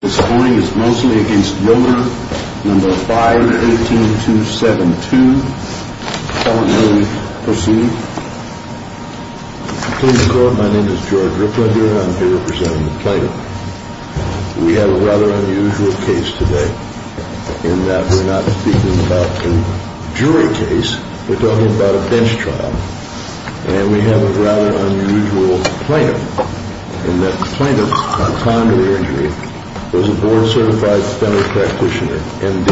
This hearing is Moseley v. Yoder, No. 518272. Call the meeting to proceed. Please record, my name is George Ripley, and I'm here representing the plaintiff. We have a rather unusual case today, in that we're not speaking about a jury case, we're talking about a bench trial. And we have a rather unusual plaintiff, in that the plaintiff, on time of the injury, was a board-certified fender practitioner, MD.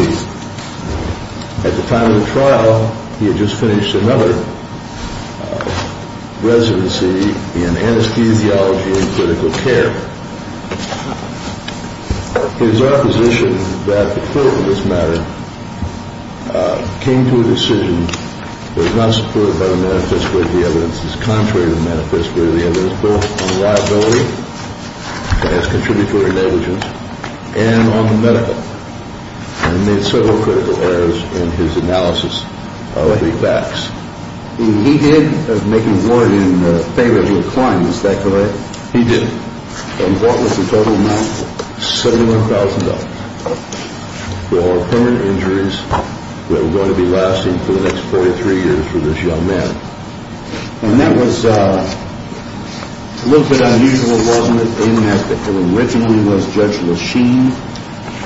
At the time of the trial, he had just finished another residency in anesthesiology and critical care. It is our position that the court in this matter came to a decision that was not supported by the manifesto of the evidence, as is contrary to the manifesto of the evidence, both on liability, as contributory negligence, and on the medical. And he made several critical errors in his analysis of the facts. He did make a warrant in favor of your client, is that correct? He did. And what was the total amount? $71,000. For all permanent injuries that are going to be lasting for the next 43 years for this young man. And that was a little bit unusual, wasn't it, in that it originally was Judge Lachine.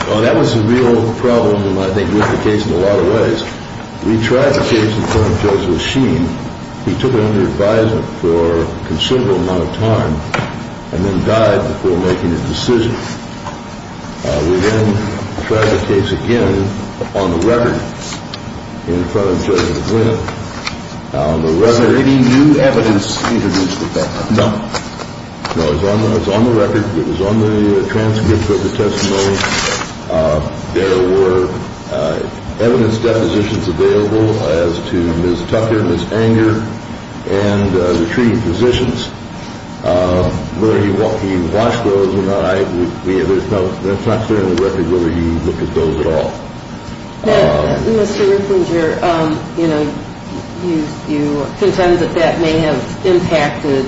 Well, that was a real problem, and I think it was the case in a lot of ways. We tried the case in front of Judge Lachine. He took it under advisement for a considerable amount of time, and then died before making a decision. We then tried the case again on the record in front of Judge McGuinn. Was there any new evidence introduced at that time? No. No, it was on the record. It was on the transcripts of the testimony. There were evidence depositions available as to Ms. Tucker, Ms. Anger, and the three physicians. Whether he watched those or not, that's not clear on the record whether he looked at those at all. Now, Mr. Richinger, you know, you contend that that may have impacted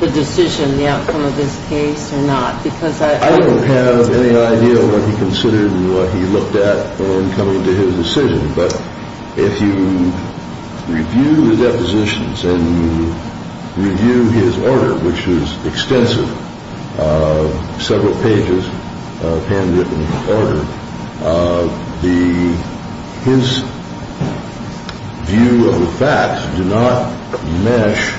the decision, the outcome of this case or not, because I don't know. I don't have any idea what he considered and what he looked at when coming to his decision. But if you review his depositions and you review his order, which is extensive, several pages of handwritten order, his view of the facts do not mesh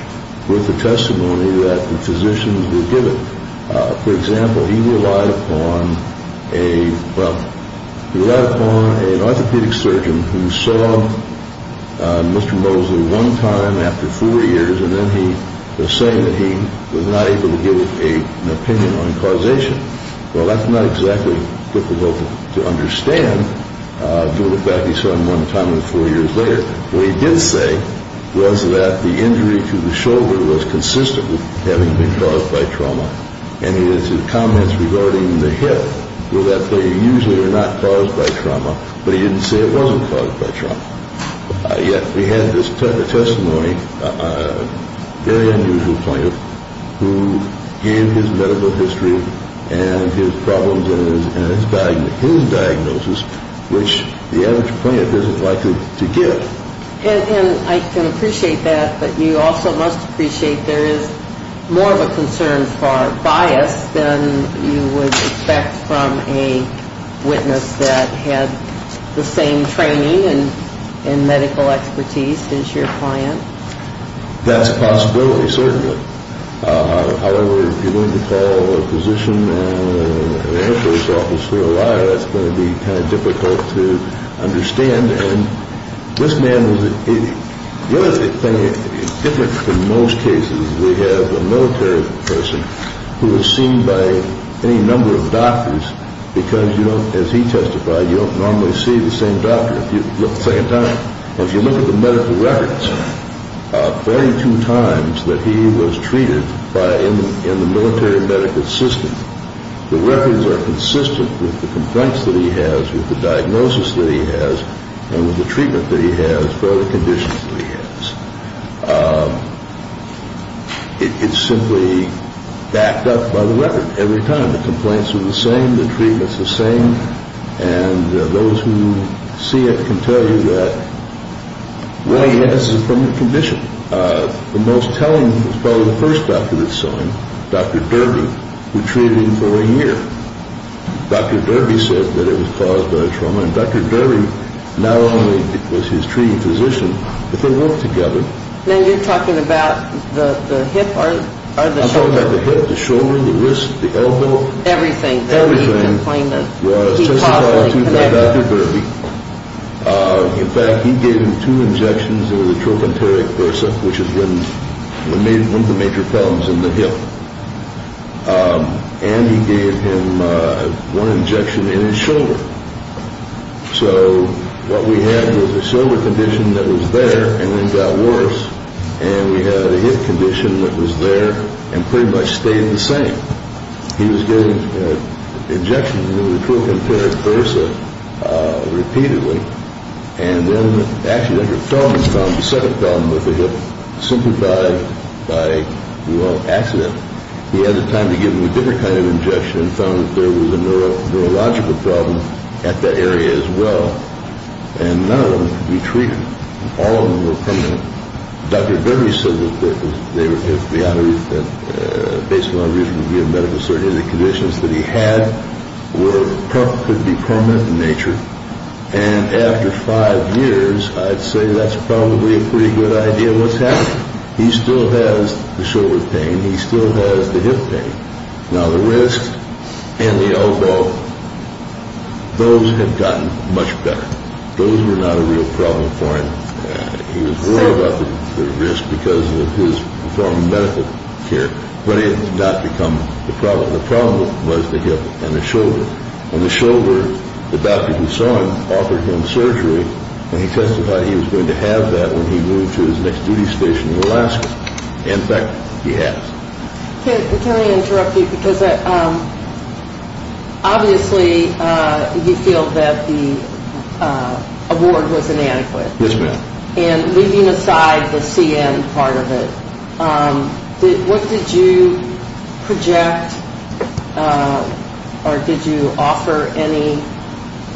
with the testimony that the physicians were given. For example, he relied upon an orthopedic surgeon who saw Mr. Mosley one time after four years, and then he was saying that he was not able to give an opinion on causation. Well, that's not exactly difficult to understand. If you look back, he saw him one time four years later. What he did say was that the injury to the shoulder was consistent with having been caused by trauma. And his comments regarding the hip were that they usually are not caused by trauma, but he didn't say it wasn't caused by trauma. Yet we had this testimony, a very unusual plaintiff, who gave his medical history and his problems and his diagnosis, which the average plaintiff isn't likely to give. And I can appreciate that, but you also must appreciate there is more of a concern for bias than you would expect from a witness that had the same training and medical expertise as your client. That's a possibility, certainly. However, if you're going to call a physician and an ambulance officer a liar, that's going to be kind of difficult to understand. And this man was a different in most cases. We have a military person who was seen by any number of doctors because, you know, as he testified, you don't normally see the same doctor. If you look at the medical records, 42 times that he was treated in the military medical system, the records are consistent with the complaints that he has, with the diagnosis that he has, and with the treatment that he has for the conditions that he has. It's simply backed up by the record every time. The complaints are the same. The treatment's the same. And those who see it can tell you that what he has is a permanent condition. The most telling is probably the first doctor that saw him, Dr. Derby, who treated him for a year. Dr. Derby said that it was caused by a trauma, and Dr. Derby not only was his treating physician, but they worked together. Now you're talking about the hip or the shoulder? The wrist, the elbow? Everything that he complained of. Everything was testified to by Dr. Derby. In fact, he gave him two injections of the trochanteric bursa, which is one of the major problems in the hip, and he gave him one injection in his shoulder. So what we had was a shoulder condition that was there and then got worse, and we had a hip condition that was there and pretty much stayed the same. He was getting injections of the trochanteric bursa repeatedly, and then actually when he fell, he found the second problem with the hip. Simply by, well, accident, he had the time to give him a different kind of injection and found that there was a neurological problem at that area as well, and none of them could be treated. All of them were permanent. Dr. Derby said that, based on the reason he gave medical certainty, the conditions that he had could be permanent in nature, and after five years, I'd say that's probably a pretty good idea of what's happening. He still has the shoulder pain. He still has the hip pain. Now the wrist and the elbow, those had gotten much better. Those were not a real problem for him. He was worried about the wrist because of his performing medical care, but it had not become the problem. The problem was the hip and the shoulder. On the shoulder, the doctor who saw him offered him surgery, and he testified he was going to have that when he moved to his next duty station in Alaska. In fact, he has. Can I interrupt you because obviously you feel that the award was inadequate. Yes, ma'am. And leaving aside the CN part of it, what did you project or did you offer any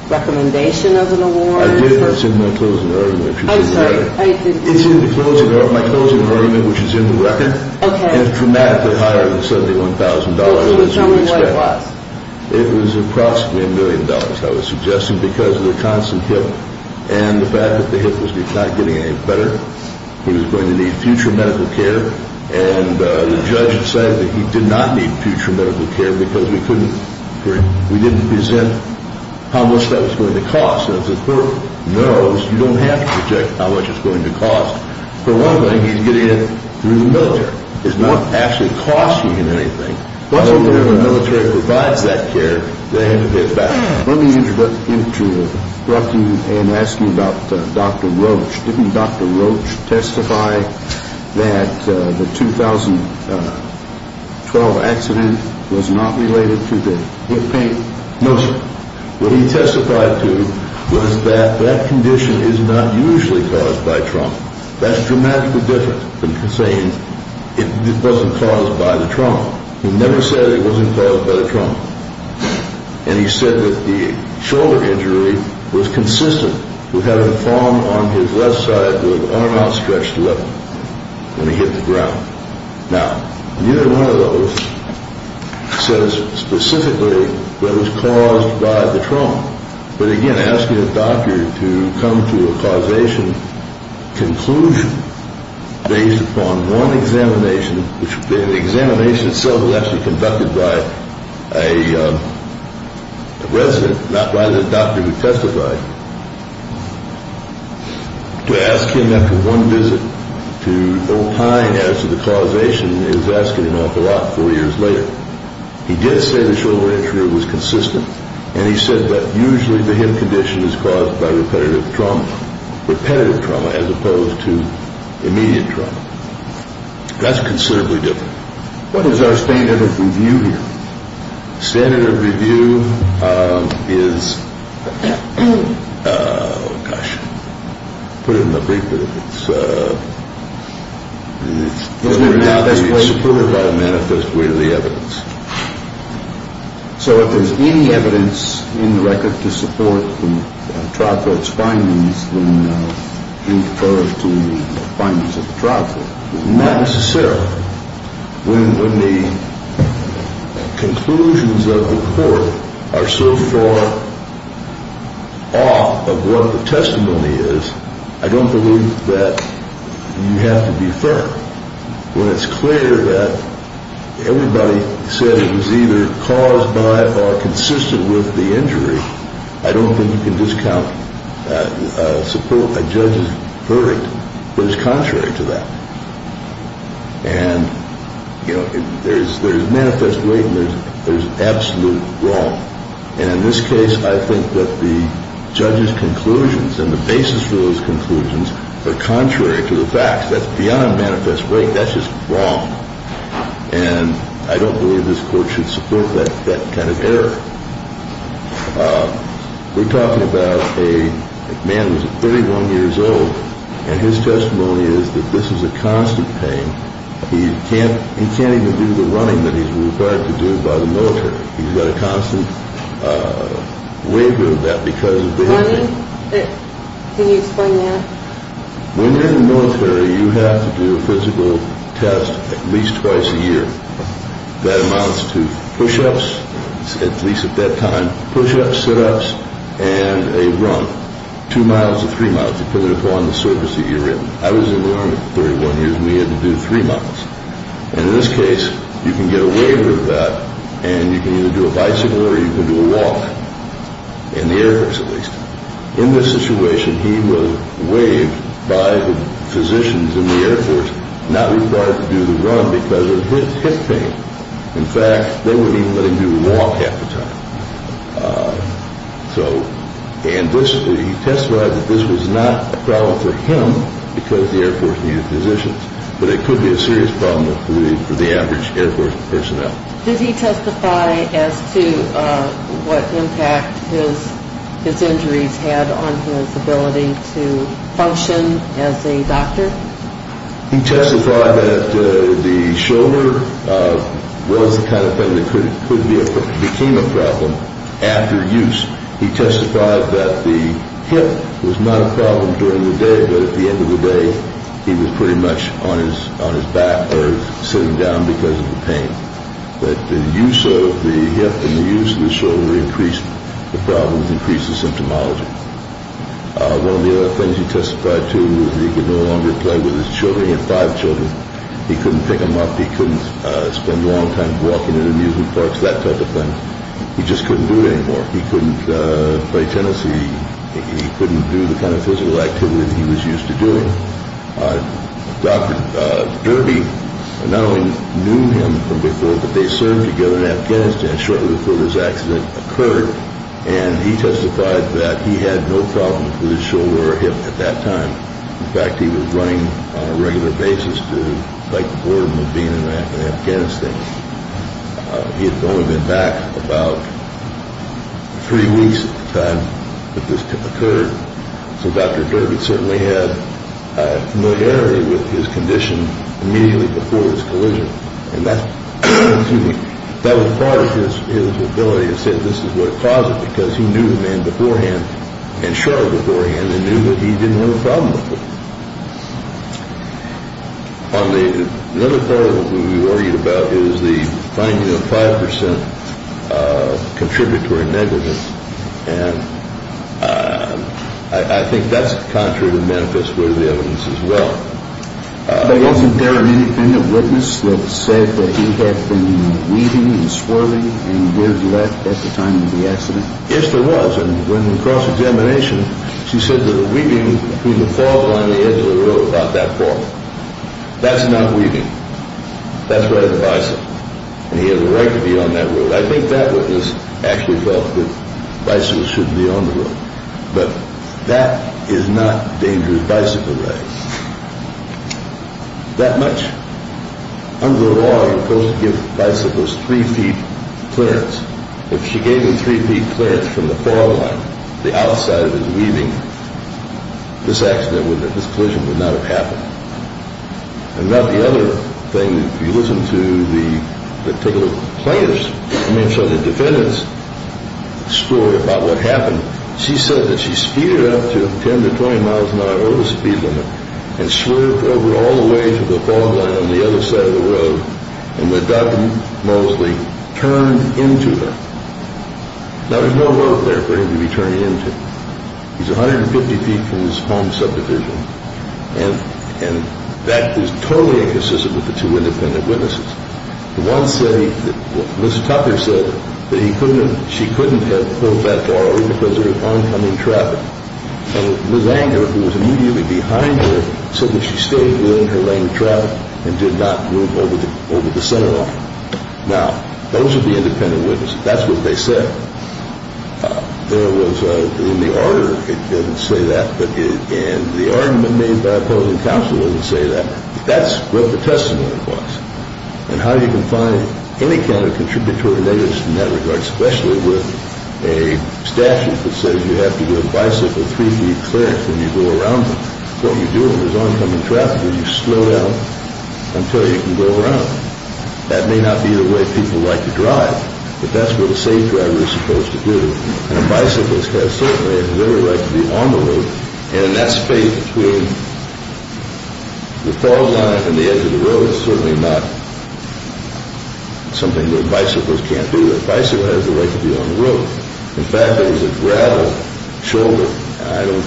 recommendation of an award? I did, but it's in my closing argument, which is in the record. I'm sorry. It's in my closing argument, which is in the record. Okay. It's dramatically higher than $71,000. Which was roughly what it was? It was approximately $1 million, I was suggesting, because of the constant hip and the fact that the hip was not getting any better. He was going to need future medical care, and the judge said that he did not need future medical care because we couldn't present how much that was going to cost. As the court knows, you don't have to project how much it's going to cost. For one thing, he's getting it through the military. It's not actually costing him anything. Whenever the military provides that care, they have to pay it back. Let me interrupt you and ask you about Dr. Roach. Didn't Dr. Roach testify that the 2012 accident was not related to the hip pain? No, sir. What he testified to was that that condition is not usually caused by trauma. That's dramatically different from saying it wasn't caused by the trauma. He never said it wasn't caused by the trauma, and he said that the shoulder injury was consistent with having a form on his left side with an arm outstretched to the left when he hit the ground. Now, neither one of those says specifically that it was caused by the trauma. But again, asking a doctor to come to a causation conclusion based upon one examination, which the examination itself was actually conducted by a resident, not by the doctor who testified, to ask him after one visit to opine as to the causation is asking him off the lot four years later. He did say the shoulder injury was consistent, and he said that usually the hip condition is caused by repetitive trauma, repetitive trauma as opposed to immediate trauma. That's considerably different. What is our standard of review here? Standard of review is, gosh, put it in a big word. It's whether or not we support it by a manifest way to the evidence. So if there's any evidence in the record to support the trial court's findings, then you defer to the findings of the trial court. Not necessarily. When the conclusions of the court are so far off of what the testimony is, I don't believe that you have to defer. When it's clear that everybody said it was either caused by or consistent with the injury, I don't think you can discount a judge's verdict that is contrary to that. And, you know, there's manifest right and there's absolute wrong. And in this case, I think that the judge's conclusions and the basis for those conclusions are contrary to the facts. That's beyond manifest right. That's just wrong. And I don't believe this court should support that kind of error. We're talking about a man who's 31 years old. And his testimony is that this is a constant pain. He can't even do the running that he's required to do by the military. He's got a constant waiver of that because of the injury. Running? Can you explain that? When you're in the military, you have to do a physical test at least twice a year. That amounts to push-ups, at least at that time, push-ups, sit-ups, and a run. Two miles or three miles, depending upon the surface that you're in. I was in the Army for 31 years, and we had to do three miles. And in this case, you can get a waiver of that, and you can either do a bicycle or you can do a walk. In the Air Force, at least. In this situation, he was waived by the physicians in the Air Force, not required to do the run because of his pain. In fact, they wouldn't even let him do the walk half the time. And he testified that this was not a problem for him because the Air Force needed physicians, but it could be a serious problem for the average Air Force personnel. Did he testify as to what impact his injuries had on his ability to function as a doctor? He testified that the shoulder was the kind of thing that could be a problem after use. He testified that the hip was not a problem during the day, but at the end of the day, he was pretty much on his back or sitting down because of the pain. But the use of the hip and the use of the shoulder increased the problems, increased the symptomology. One of the other things he testified to was that he could no longer play with his children. He had five children. He couldn't pick them up. He couldn't spend a long time walking in amusement parks, that type of thing. He just couldn't do it anymore. He couldn't play tennis. He couldn't do the kind of physical activity that he was used to doing. Dr. Derby not only knew him from before, but they served together in Afghanistan shortly before this accident occurred, and he testified that he had no problem with his shoulder or hip at that time. In fact, he was running on a regular basis to fight the boredom of being in Afghanistan. He had only been back about three weeks at the time that this occurred, so Dr. Derby certainly had familiarity with his condition immediately before this collision, and that was part of his ability to say this is what caused it because he knew the man beforehand and shortly beforehand and knew that he didn't have a problem with it. On the other part of what we worried about is the finding of 5% contributory negligence, and I think that's contrary to the manifest way of the evidence as well. But wasn't there anything that witnessed that said that he had been weeping and swerving and weaved left at the time of the accident? Yes, there was, and when the cross-examination, she said that a weaving through the fog on the edge of the road about that far. That's not weaving. That's riding a bicycle, and he had the right to be on that road. I think that witness actually felt that bicycles should be on the road, but that is not a dangerous bicycle ride. That much? Under the law, you're supposed to give bicycles three feet clearance. If she gave him three feet clearance from the fog line, the outside of his weaving, this accident, this collision would not have happened. And about the other thing, if you listen to the particular plaintiffs, I mean, so the defendant's story about what happened, she said that she speeded up to 10 to 20 miles an hour over the speed limit and swerved over all the way to the fog line on the other side of the road and that Doug Mosley turned into her. Now, there's no road there for him to be turning into. He's 150 feet from his home subdivision, and that is totally inconsistent with the two independent witnesses. The one said, Ms. Tucker said that she couldn't have pulled that far because there was oncoming traffic, and Ms. Anger, who was immediately behind her, said that she stayed within her lane of travel and did not move over the center line. Now, those are the independent witnesses. That's what they said. There was in the order, it didn't say that, but in the argument made by opposing counsel, it didn't say that. That's what the testimony was. And how you can find any kind of contributory negligence in that regard, especially with a statute that says you have to give a bicycle three feet clearance when you go around them, what you do when there's oncoming traffic is you slow down until you can go around them. That may not be the way people like to drive, but that's what a safe driver is supposed to do, and a bicyclist has, certainly, has every right to be on the road, and in that space between the fog line and the edge of the road, it's certainly not something that a bicyclist can't do. A bicyclist has the right to be on the road. In fact, there was a gravel shoulder. I don't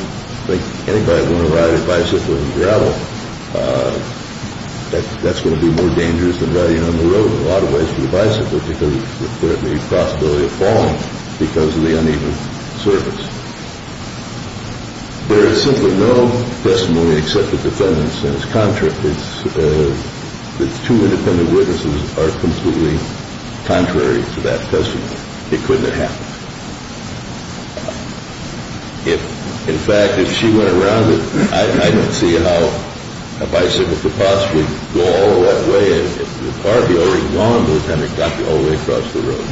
think anybody would want to ride a bicycle in gravel. That's going to be more dangerous than riding on the road in a lot of ways for the bicyclist because there's a possibility of falling because of the uneven surface. There is simply no testimony except the defendant's and his contract. The two independent witnesses are completely contrary to that testimony. It couldn't have happened. In fact, if she went around it, I don't see how a bicycle could possibly go all the way. If the car had already gone, the defendant got all the way across the road.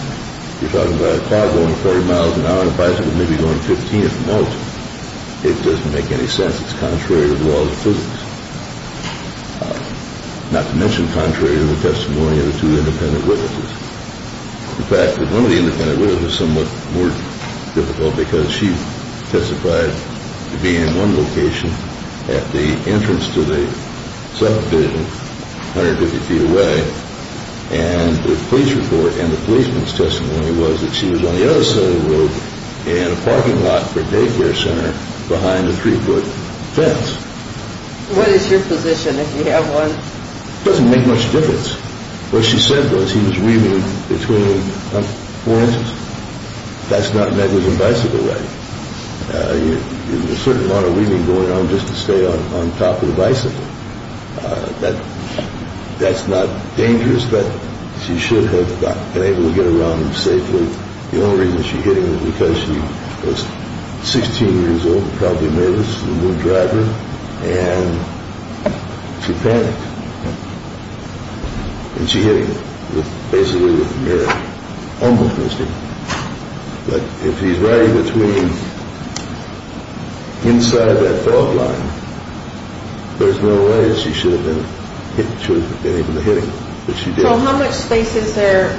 You're talking about a car going 40 miles an hour and a bicycle maybe going 15 at the most. It doesn't make any sense. It's contrary to the laws of physics, not to mention contrary to the testimony of the two independent witnesses. The fact that one of the independent witnesses is somewhat more difficult because she testified to be in one location at the entrance to the subdivision 150 feet away, and the police report and the policeman's testimony was that she was on the other side of the road in a parking lot for a daycare center behind a three-foot fence. What is your position if you have one? It doesn't make much difference. What she said was he was wheeling between four inches. That's not a negligent bicycle ride. There's a certain amount of wheeling going on just to stay on top of the bicycle. That's not dangerous, but she should have been able to get around him safely. The only reason she hit him was because she was 16 years old and probably a middle school driver, and she panicked, and she hit him basically with a mirror. Almost missed him. But if he's riding between inside that fog line, there's no way she should have been able to hit him, but she did. So how much space is there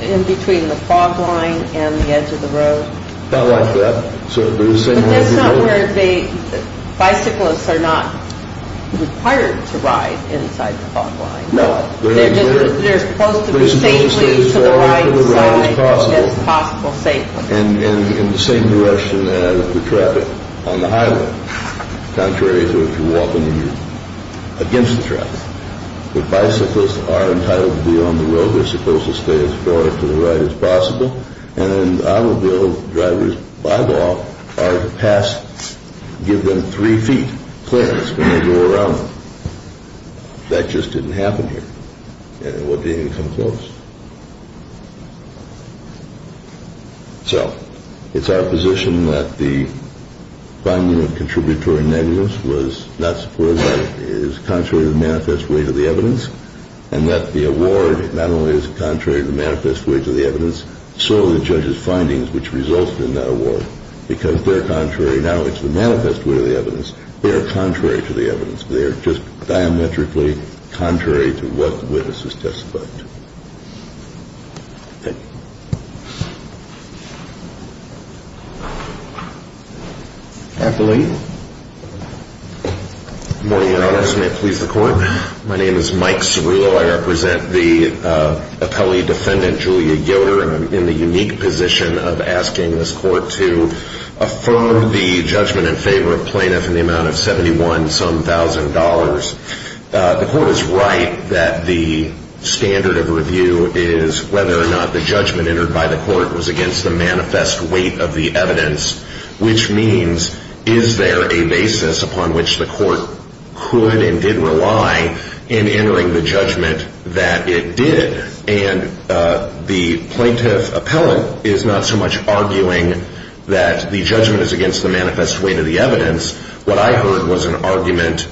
in between the fog line and the edge of the road? About like that. But that's not where the bicyclists are not required to ride inside the fog line. No. They're supposed to be safely to the right side as possible. And in the same direction as the traffic on the highway, contrary to if you're walking against the traffic. The bicyclists are entitled to be on the road. They're supposed to stay as far to the right as possible, and the automobile drivers, by law, are to pass, give them three feet clearance when they go around them. That just didn't happen here, and it wouldn't even come close. So it's our position that the finding of contributory negligence was not supported, that it is contrary to the manifest way to the evidence, and that the award not only is contrary to the manifest way to the evidence, so are the judge's findings which result in that award, because they're contrary not only to the manifest way to the evidence, they're contrary to the evidence. They're just diametrically contrary to what witnesses testified to. Afternoon. Good morning, Your Honor. My name is Mike Cerullo. I represent the appellee defendant, Julia Yoder, and I'm in the unique position of asking this court to affirm the judgment in favor of plaintiff in the amount of $71-some-thousand. The court is right that the standard of review is whether or not the judgment entered by the court was against the manifest weight of the evidence, which means is there a basis upon which the court could and did rely in entering the judgment that it did? And the plaintiff appellant is not so much arguing that the judgment is against the manifest weight of the evidence. What I heard was an argument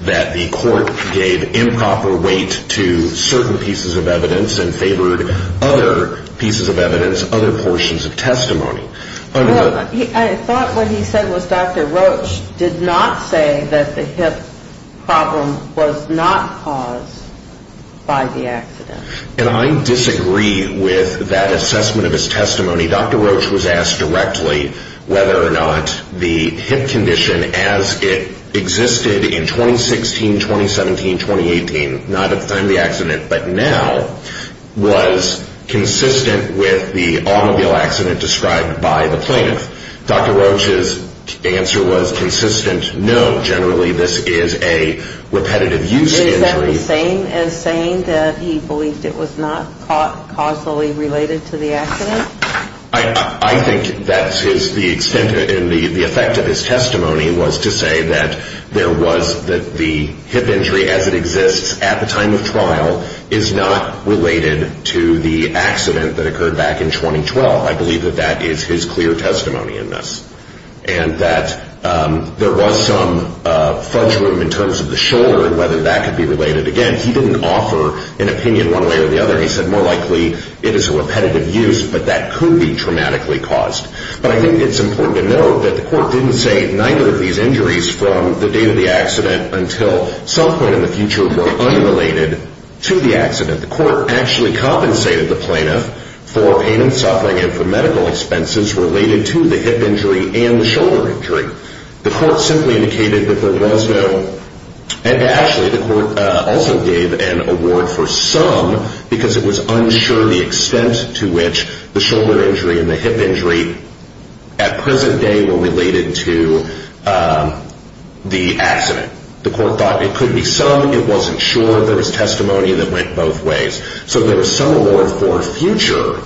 that the court gave improper weight to certain pieces of evidence and favored other pieces of evidence, other portions of testimony. I thought what he said was Dr. Roach did not say that the hip problem was not caused by the accident. And I disagree with that assessment of his testimony. Dr. Roach was asked directly whether or not the hip condition as it existed in 2016, 2017, 2018, not at the time of the accident but now, was consistent with the automobile accident described by the plaintiff. Dr. Roach's answer was consistent, no, generally this is a repetitive use injury. Is that the same as saying that he believed it was not causally related to the accident? I think that is the extent and the effect of his testimony was to say that there was, that the hip injury as it exists at the time of trial is not related to the accident that occurred back in 2012. I believe that that is his clear testimony in this. And that there was some fudge room in terms of the shoulder and whether that could be related. Again, he didn't offer an opinion one way or the other. He said more likely it is a repetitive use but that could be traumatically caused. But I think it's important to note that the court didn't say neither of these injuries from the date of the accident until some point in the future were unrelated to the accident. The court actually compensated the plaintiff for pain and suffering and for medical expenses related to the hip injury and the shoulder injury. The court simply indicated that there was no, and actually the court also gave an award for some because it was unsure the extent to which the shoulder injury and the hip injury at present day were related to the accident. The court thought it could be some. It wasn't sure. There was testimony that went both ways. So there was some award for future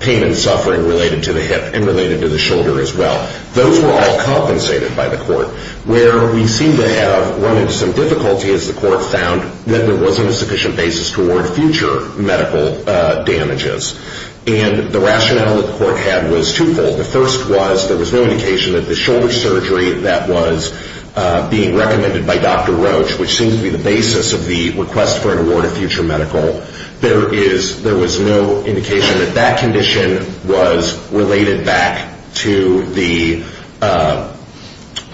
pain and suffering related to the hip and related to the shoulder as well. Those were all compensated by the court where we seem to have run into some difficulty as the court found that there wasn't a sufficient basis to award future medical damages. And the rationale that the court had was twofold. The first was there was no indication that the shoulder surgery that was being recommended by Dr. Roach, which seems to be the basis of the request for an award of future medical, there was no indication that that condition was related back to the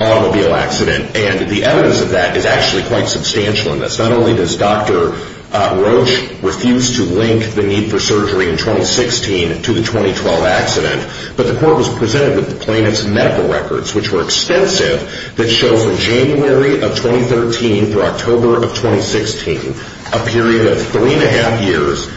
automobile accident. And the evidence of that is actually quite substantial in this. Not only does Dr. Roach refuse to link the need for surgery in 2016 to the 2012 accident, but the court was presented with the plaintiff's medical records, which were extensive, that show from January of 2013 through October of 2016, a period of three and a half years,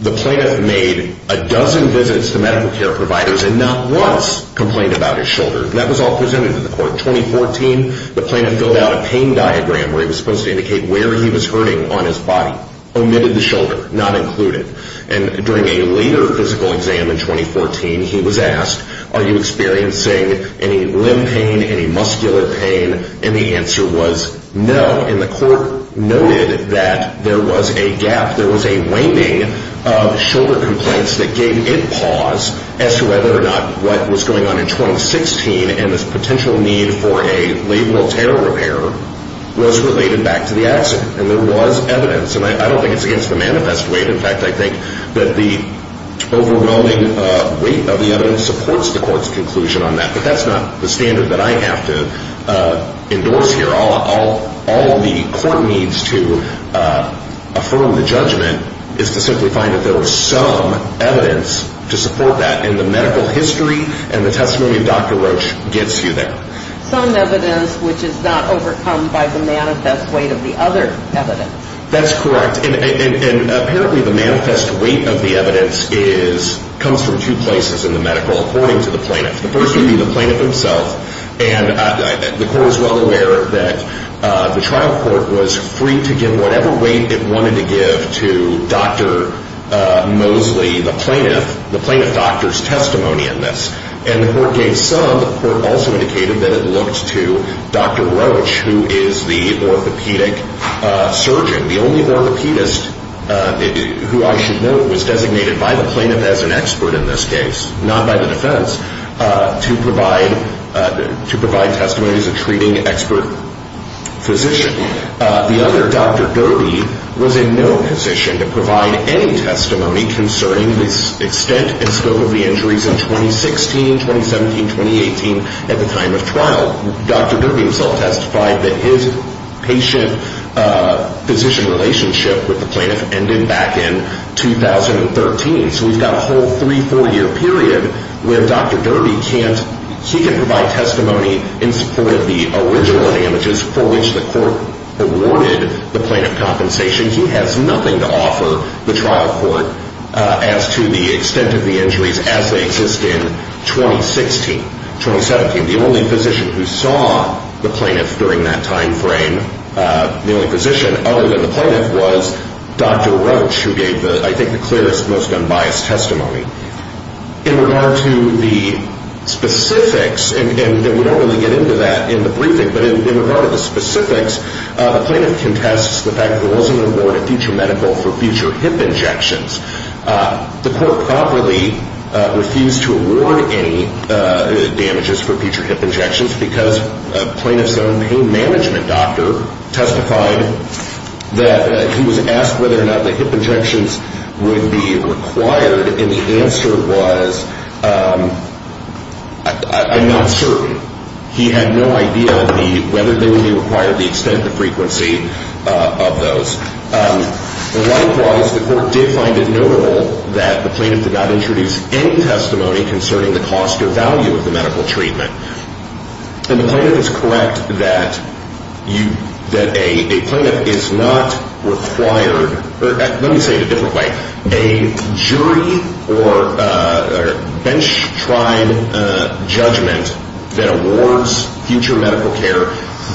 the plaintiff made a dozen visits to medical care providers and not once complained about his shoulder. That was all presented to the court. In 2014, the plaintiff filled out a pain diagram where he was supposed to indicate where he was hurting on his body, omitted the shoulder, not included. And during a later physical exam in 2014, he was asked, are you experiencing any limb pain, any muscular pain? And the answer was no. And the court noted that there was a gap, there was a waning of shoulder complaints that gave it pause as to whether or not what was going on in 2016 and this potential need for a labral tear repair was related back to the accident. And there was evidence. And I don't think it's against the manifest weight. In fact, I think that the overwhelming weight of the evidence supports the court's conclusion on that. But that's not the standard that I have to endorse here. All the court needs to affirm the judgment is to simply find that there was some evidence to support that. And the medical history and the testimony of Dr. Roach gets you there. Some evidence which is not overcome by the manifest weight of the other evidence. That's correct. And apparently the manifest weight of the evidence comes from two places in the medical, according to the plaintiff. The first would be the plaintiff himself. And the court is well aware that the trial court was free to give whatever weight it wanted to give to Dr. Mosley, the plaintiff, the plaintiff doctor's testimony in this. And the court gave some. The court also indicated that it looked to Dr. Roach, who is the orthopedic surgeon, the only orthopedist who I should note was designated by the plaintiff as an expert in this case, not by the defense, to provide testimony as a treating expert physician. The other, Dr. Derby, was in no position to provide any testimony concerning the extent and scope of the injuries in 2016, 2017, 2018 at the time of trial. Dr. Derby himself testified that his patient-physician relationship with the plaintiff ended back in 2013. So we've got a whole three-, four-year period where Dr. Derby can't, he can provide testimony in support of the original damages for which the court awarded the plaintiff compensation. He has nothing to offer the trial court as to the extent of the injuries as they exist in 2016, 2017. The only physician who saw the plaintiff during that time frame, the only physician other than the plaintiff was Dr. Roach, who gave the, I think, the clearest, most unbiased testimony. In regard to the specifics, and we don't really get into that in the briefing, but in regard to the specifics, the plaintiff contests the fact that there wasn't an award of future medical for future hip injections. The court properly refused to award any damages for future hip injections because a plaintiff's own pain management doctor testified that he was asked whether or not the hip injections would be required, and the answer was, I'm not certain. He had no idea whether they would be required, the extent, the frequency of those. Likewise, the court did find it notable that the plaintiff did not introduce any testimony concerning the cost or value of the medical treatment, and the plaintiff is correct that a plaintiff is not required, or let me say it a different way, a jury or bench-tribe judgment that awards future medical care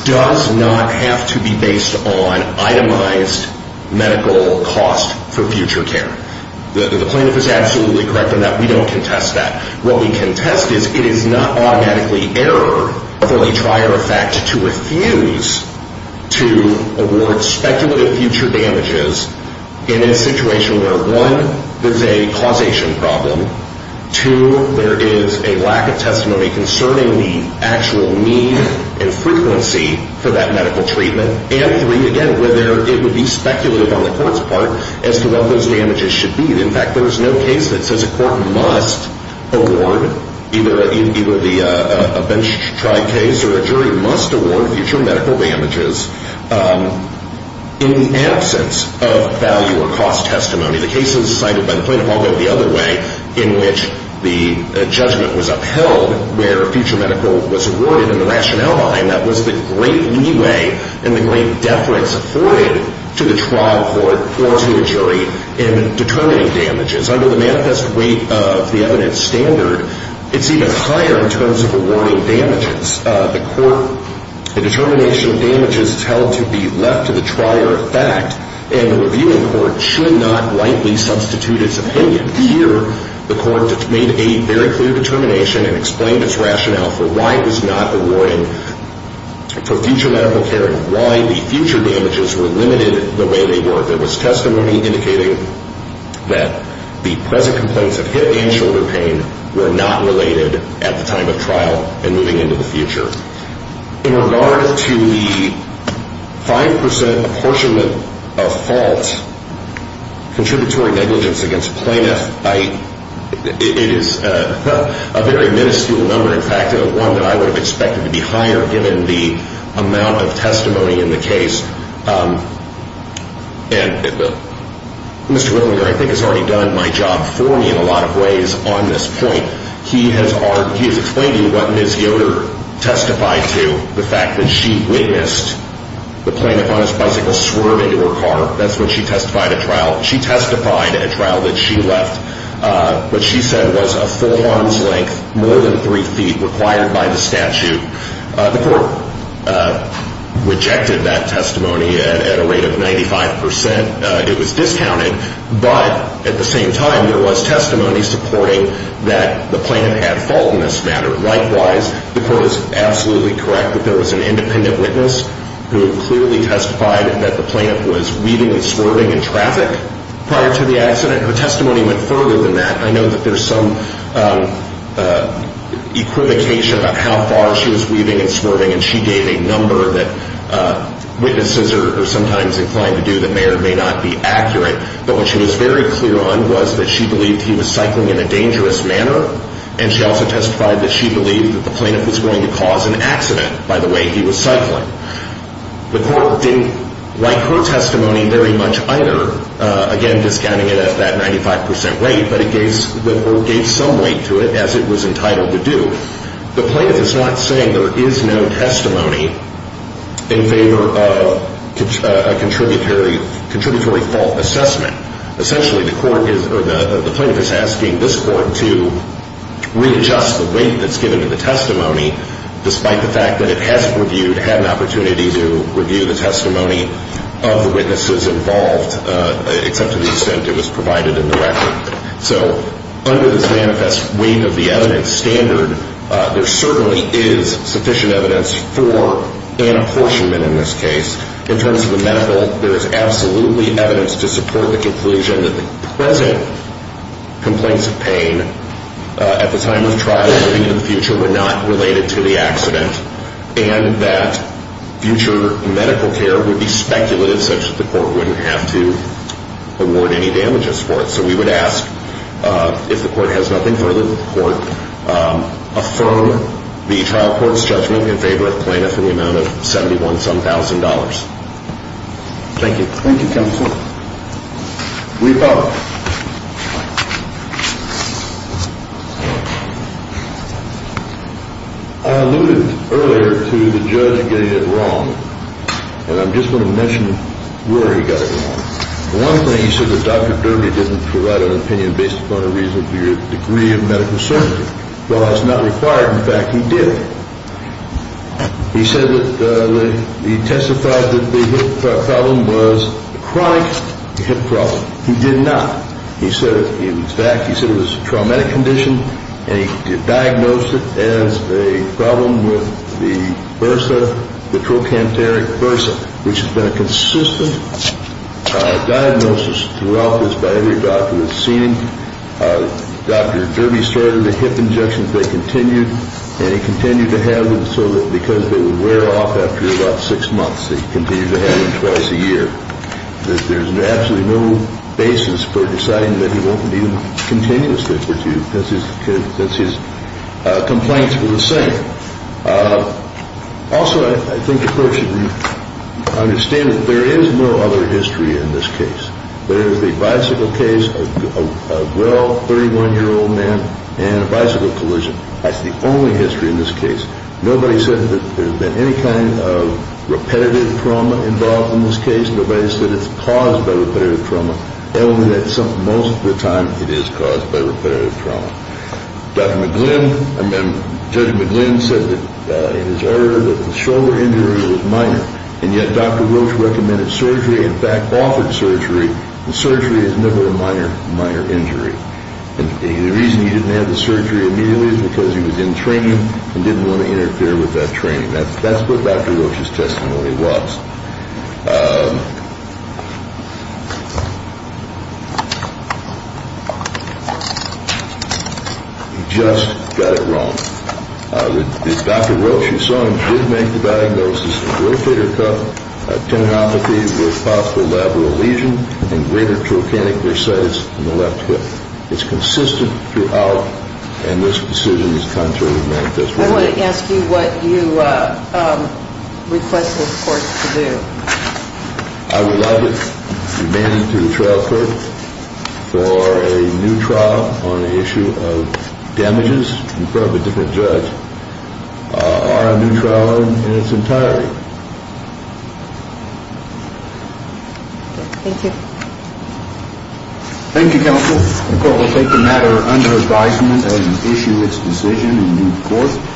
does not have to be based on itemized medical cost for future care. The plaintiff is absolutely correct in that we don't contest that. What we contest is it is not automatically error, or a prior effect, to refuse to award speculative future damages in a situation where, one, there's a causation problem, two, there is a lack of testimony concerning the actual need and frequency for that medical treatment, and three, again, whether it would be speculative on the court's part as to what those damages should be. In fact, there is no case that says a court must award, either a bench-tribe case or a jury, must award future medical damages in the absence of value or cost testimony. The cases cited by the plaintiff all go the other way, in which the judgment was upheld where future medical was awarded, and the rationale behind that was the great leeway and the great deference afforded to the trial court or to the jury in determining damages. Under the manifest weight of the evidence standard, it's even higher in terms of awarding damages. The determination of damages is held to be left to the trier effect, and the reviewing court should not rightly substitute its opinion. Here, the court made a very clear determination and explained its rationale for why it was not awarding for future medical care and why the future damages were limited the way they were. There was testimony indicating that the present complaints of hip and shoulder pain were not related at the time of trial and moving into the future. In regard to the 5% apportionment of false contributory negligence against plaintiffs, it is a very minuscule number, in fact, one that I would have expected to be higher, given the amount of testimony in the case. And Mr. Willinger, I think, has already done my job for me in a lot of ways on this point. He has explained to you what Ms. Yoder testified to, the fact that she witnessed the plaintiff on his bicycle swerve into her car. That's when she testified at trial. She testified at trial that she left what she said was a full arm's length, more than three feet, required by the statute. The court rejected that testimony at a rate of 95%. It was discounted. But at the same time, there was testimony supporting that the plaintiff had fault in this matter. Likewise, the court is absolutely correct that there was an independent witness who clearly testified that the plaintiff was weaving and swerving in traffic prior to the accident. Her testimony went further than that. I know that there's some equivocation about how far she was weaving and swerving, and she gave a number that witnesses are sometimes inclined to do that may or may not be accurate. But what she was very clear on was that she believed he was cycling in a dangerous manner, and she also testified that she believed that the plaintiff was going to cause an accident by the way he was cycling. The court didn't like her testimony very much either, again, discounting it at that 95% rate, but it gave some weight to it, as it was entitled to do. The plaintiff is not saying there is no testimony in favor of a contributory fault assessment. Essentially, the plaintiff is asking this court to readjust the weight that's given to the testimony, despite the fact that it has an opportunity to review the testimony of the witnesses involved, except to the extent it was provided in the record. So under this manifest weight of the evidence standard, there certainly is sufficient evidence for an apportionment in this case. In terms of the medical, there is absolutely evidence to support the conclusion that the present complaints of pain at the time of trial and in the future were not related to the accident, and that future medical care would be speculative, such that the court wouldn't have to award any damages for it. So we would ask, if the court has nothing further to report, affirm the trial court's judgment in favor of plaintiff in the amount of $71,000. Thank you. Thank you, counsel. We vote. I alluded earlier to the judge getting it wrong, and I'm just going to mention where he got it wrong. One thing, he said that Dr. Durbey didn't provide an opinion based upon a reasonable degree of medical certainty. Well, that's not required. In fact, he did. He said that he testified that the hip problem was a chronic hip problem. He did not. He said it was traumatic condition, and he diagnosed it as a problem with the bursa, the trochanteric bursa, which has been a consistent diagnosis throughout this by every doctor that's seen him. Dr. Durbey started the hip injections. They continued, and he continued to have them so that because they would wear off after about six months, he continued to have them twice a year. There's absolutely no basis for deciding that he won't need them continuously since his complaints were the same. Also, I think the court should understand that there is no other history in this case. There is a bicycle case, a well, 31-year-old man, and a bicycle collision. That's the only history in this case. Nobody said that there's been any kind of repetitive trauma involved in this case. Nobody said it's caused by repetitive trauma, only that most of the time it is caused by repetitive trauma. Judge McGlynn said that his shoulder injury was minor, and yet Dr. Roach recommended surgery, in fact offered surgery, and surgery is never a minor injury. The reason he didn't have the surgery immediately is because he was in training and didn't want to interfere with that training. That's what Dr. Roach's testimony was. He just got it wrong. Dr. Roach, you saw him, did make the diagnosis of rotator cuff tendinopathy with possible labral lesion and greater trochanteric bursitis in the left hip. It's consistent throughout, and this decision has come through the manifesto. I want to ask you what you request this court to do. I would like to demand to the trial court for a new trial on the issue of damages, in front of a different judge, or a new trial in its entirety. Thank you. Thank you, counsel. The court will take the matter under advisement and issue its decision in due court.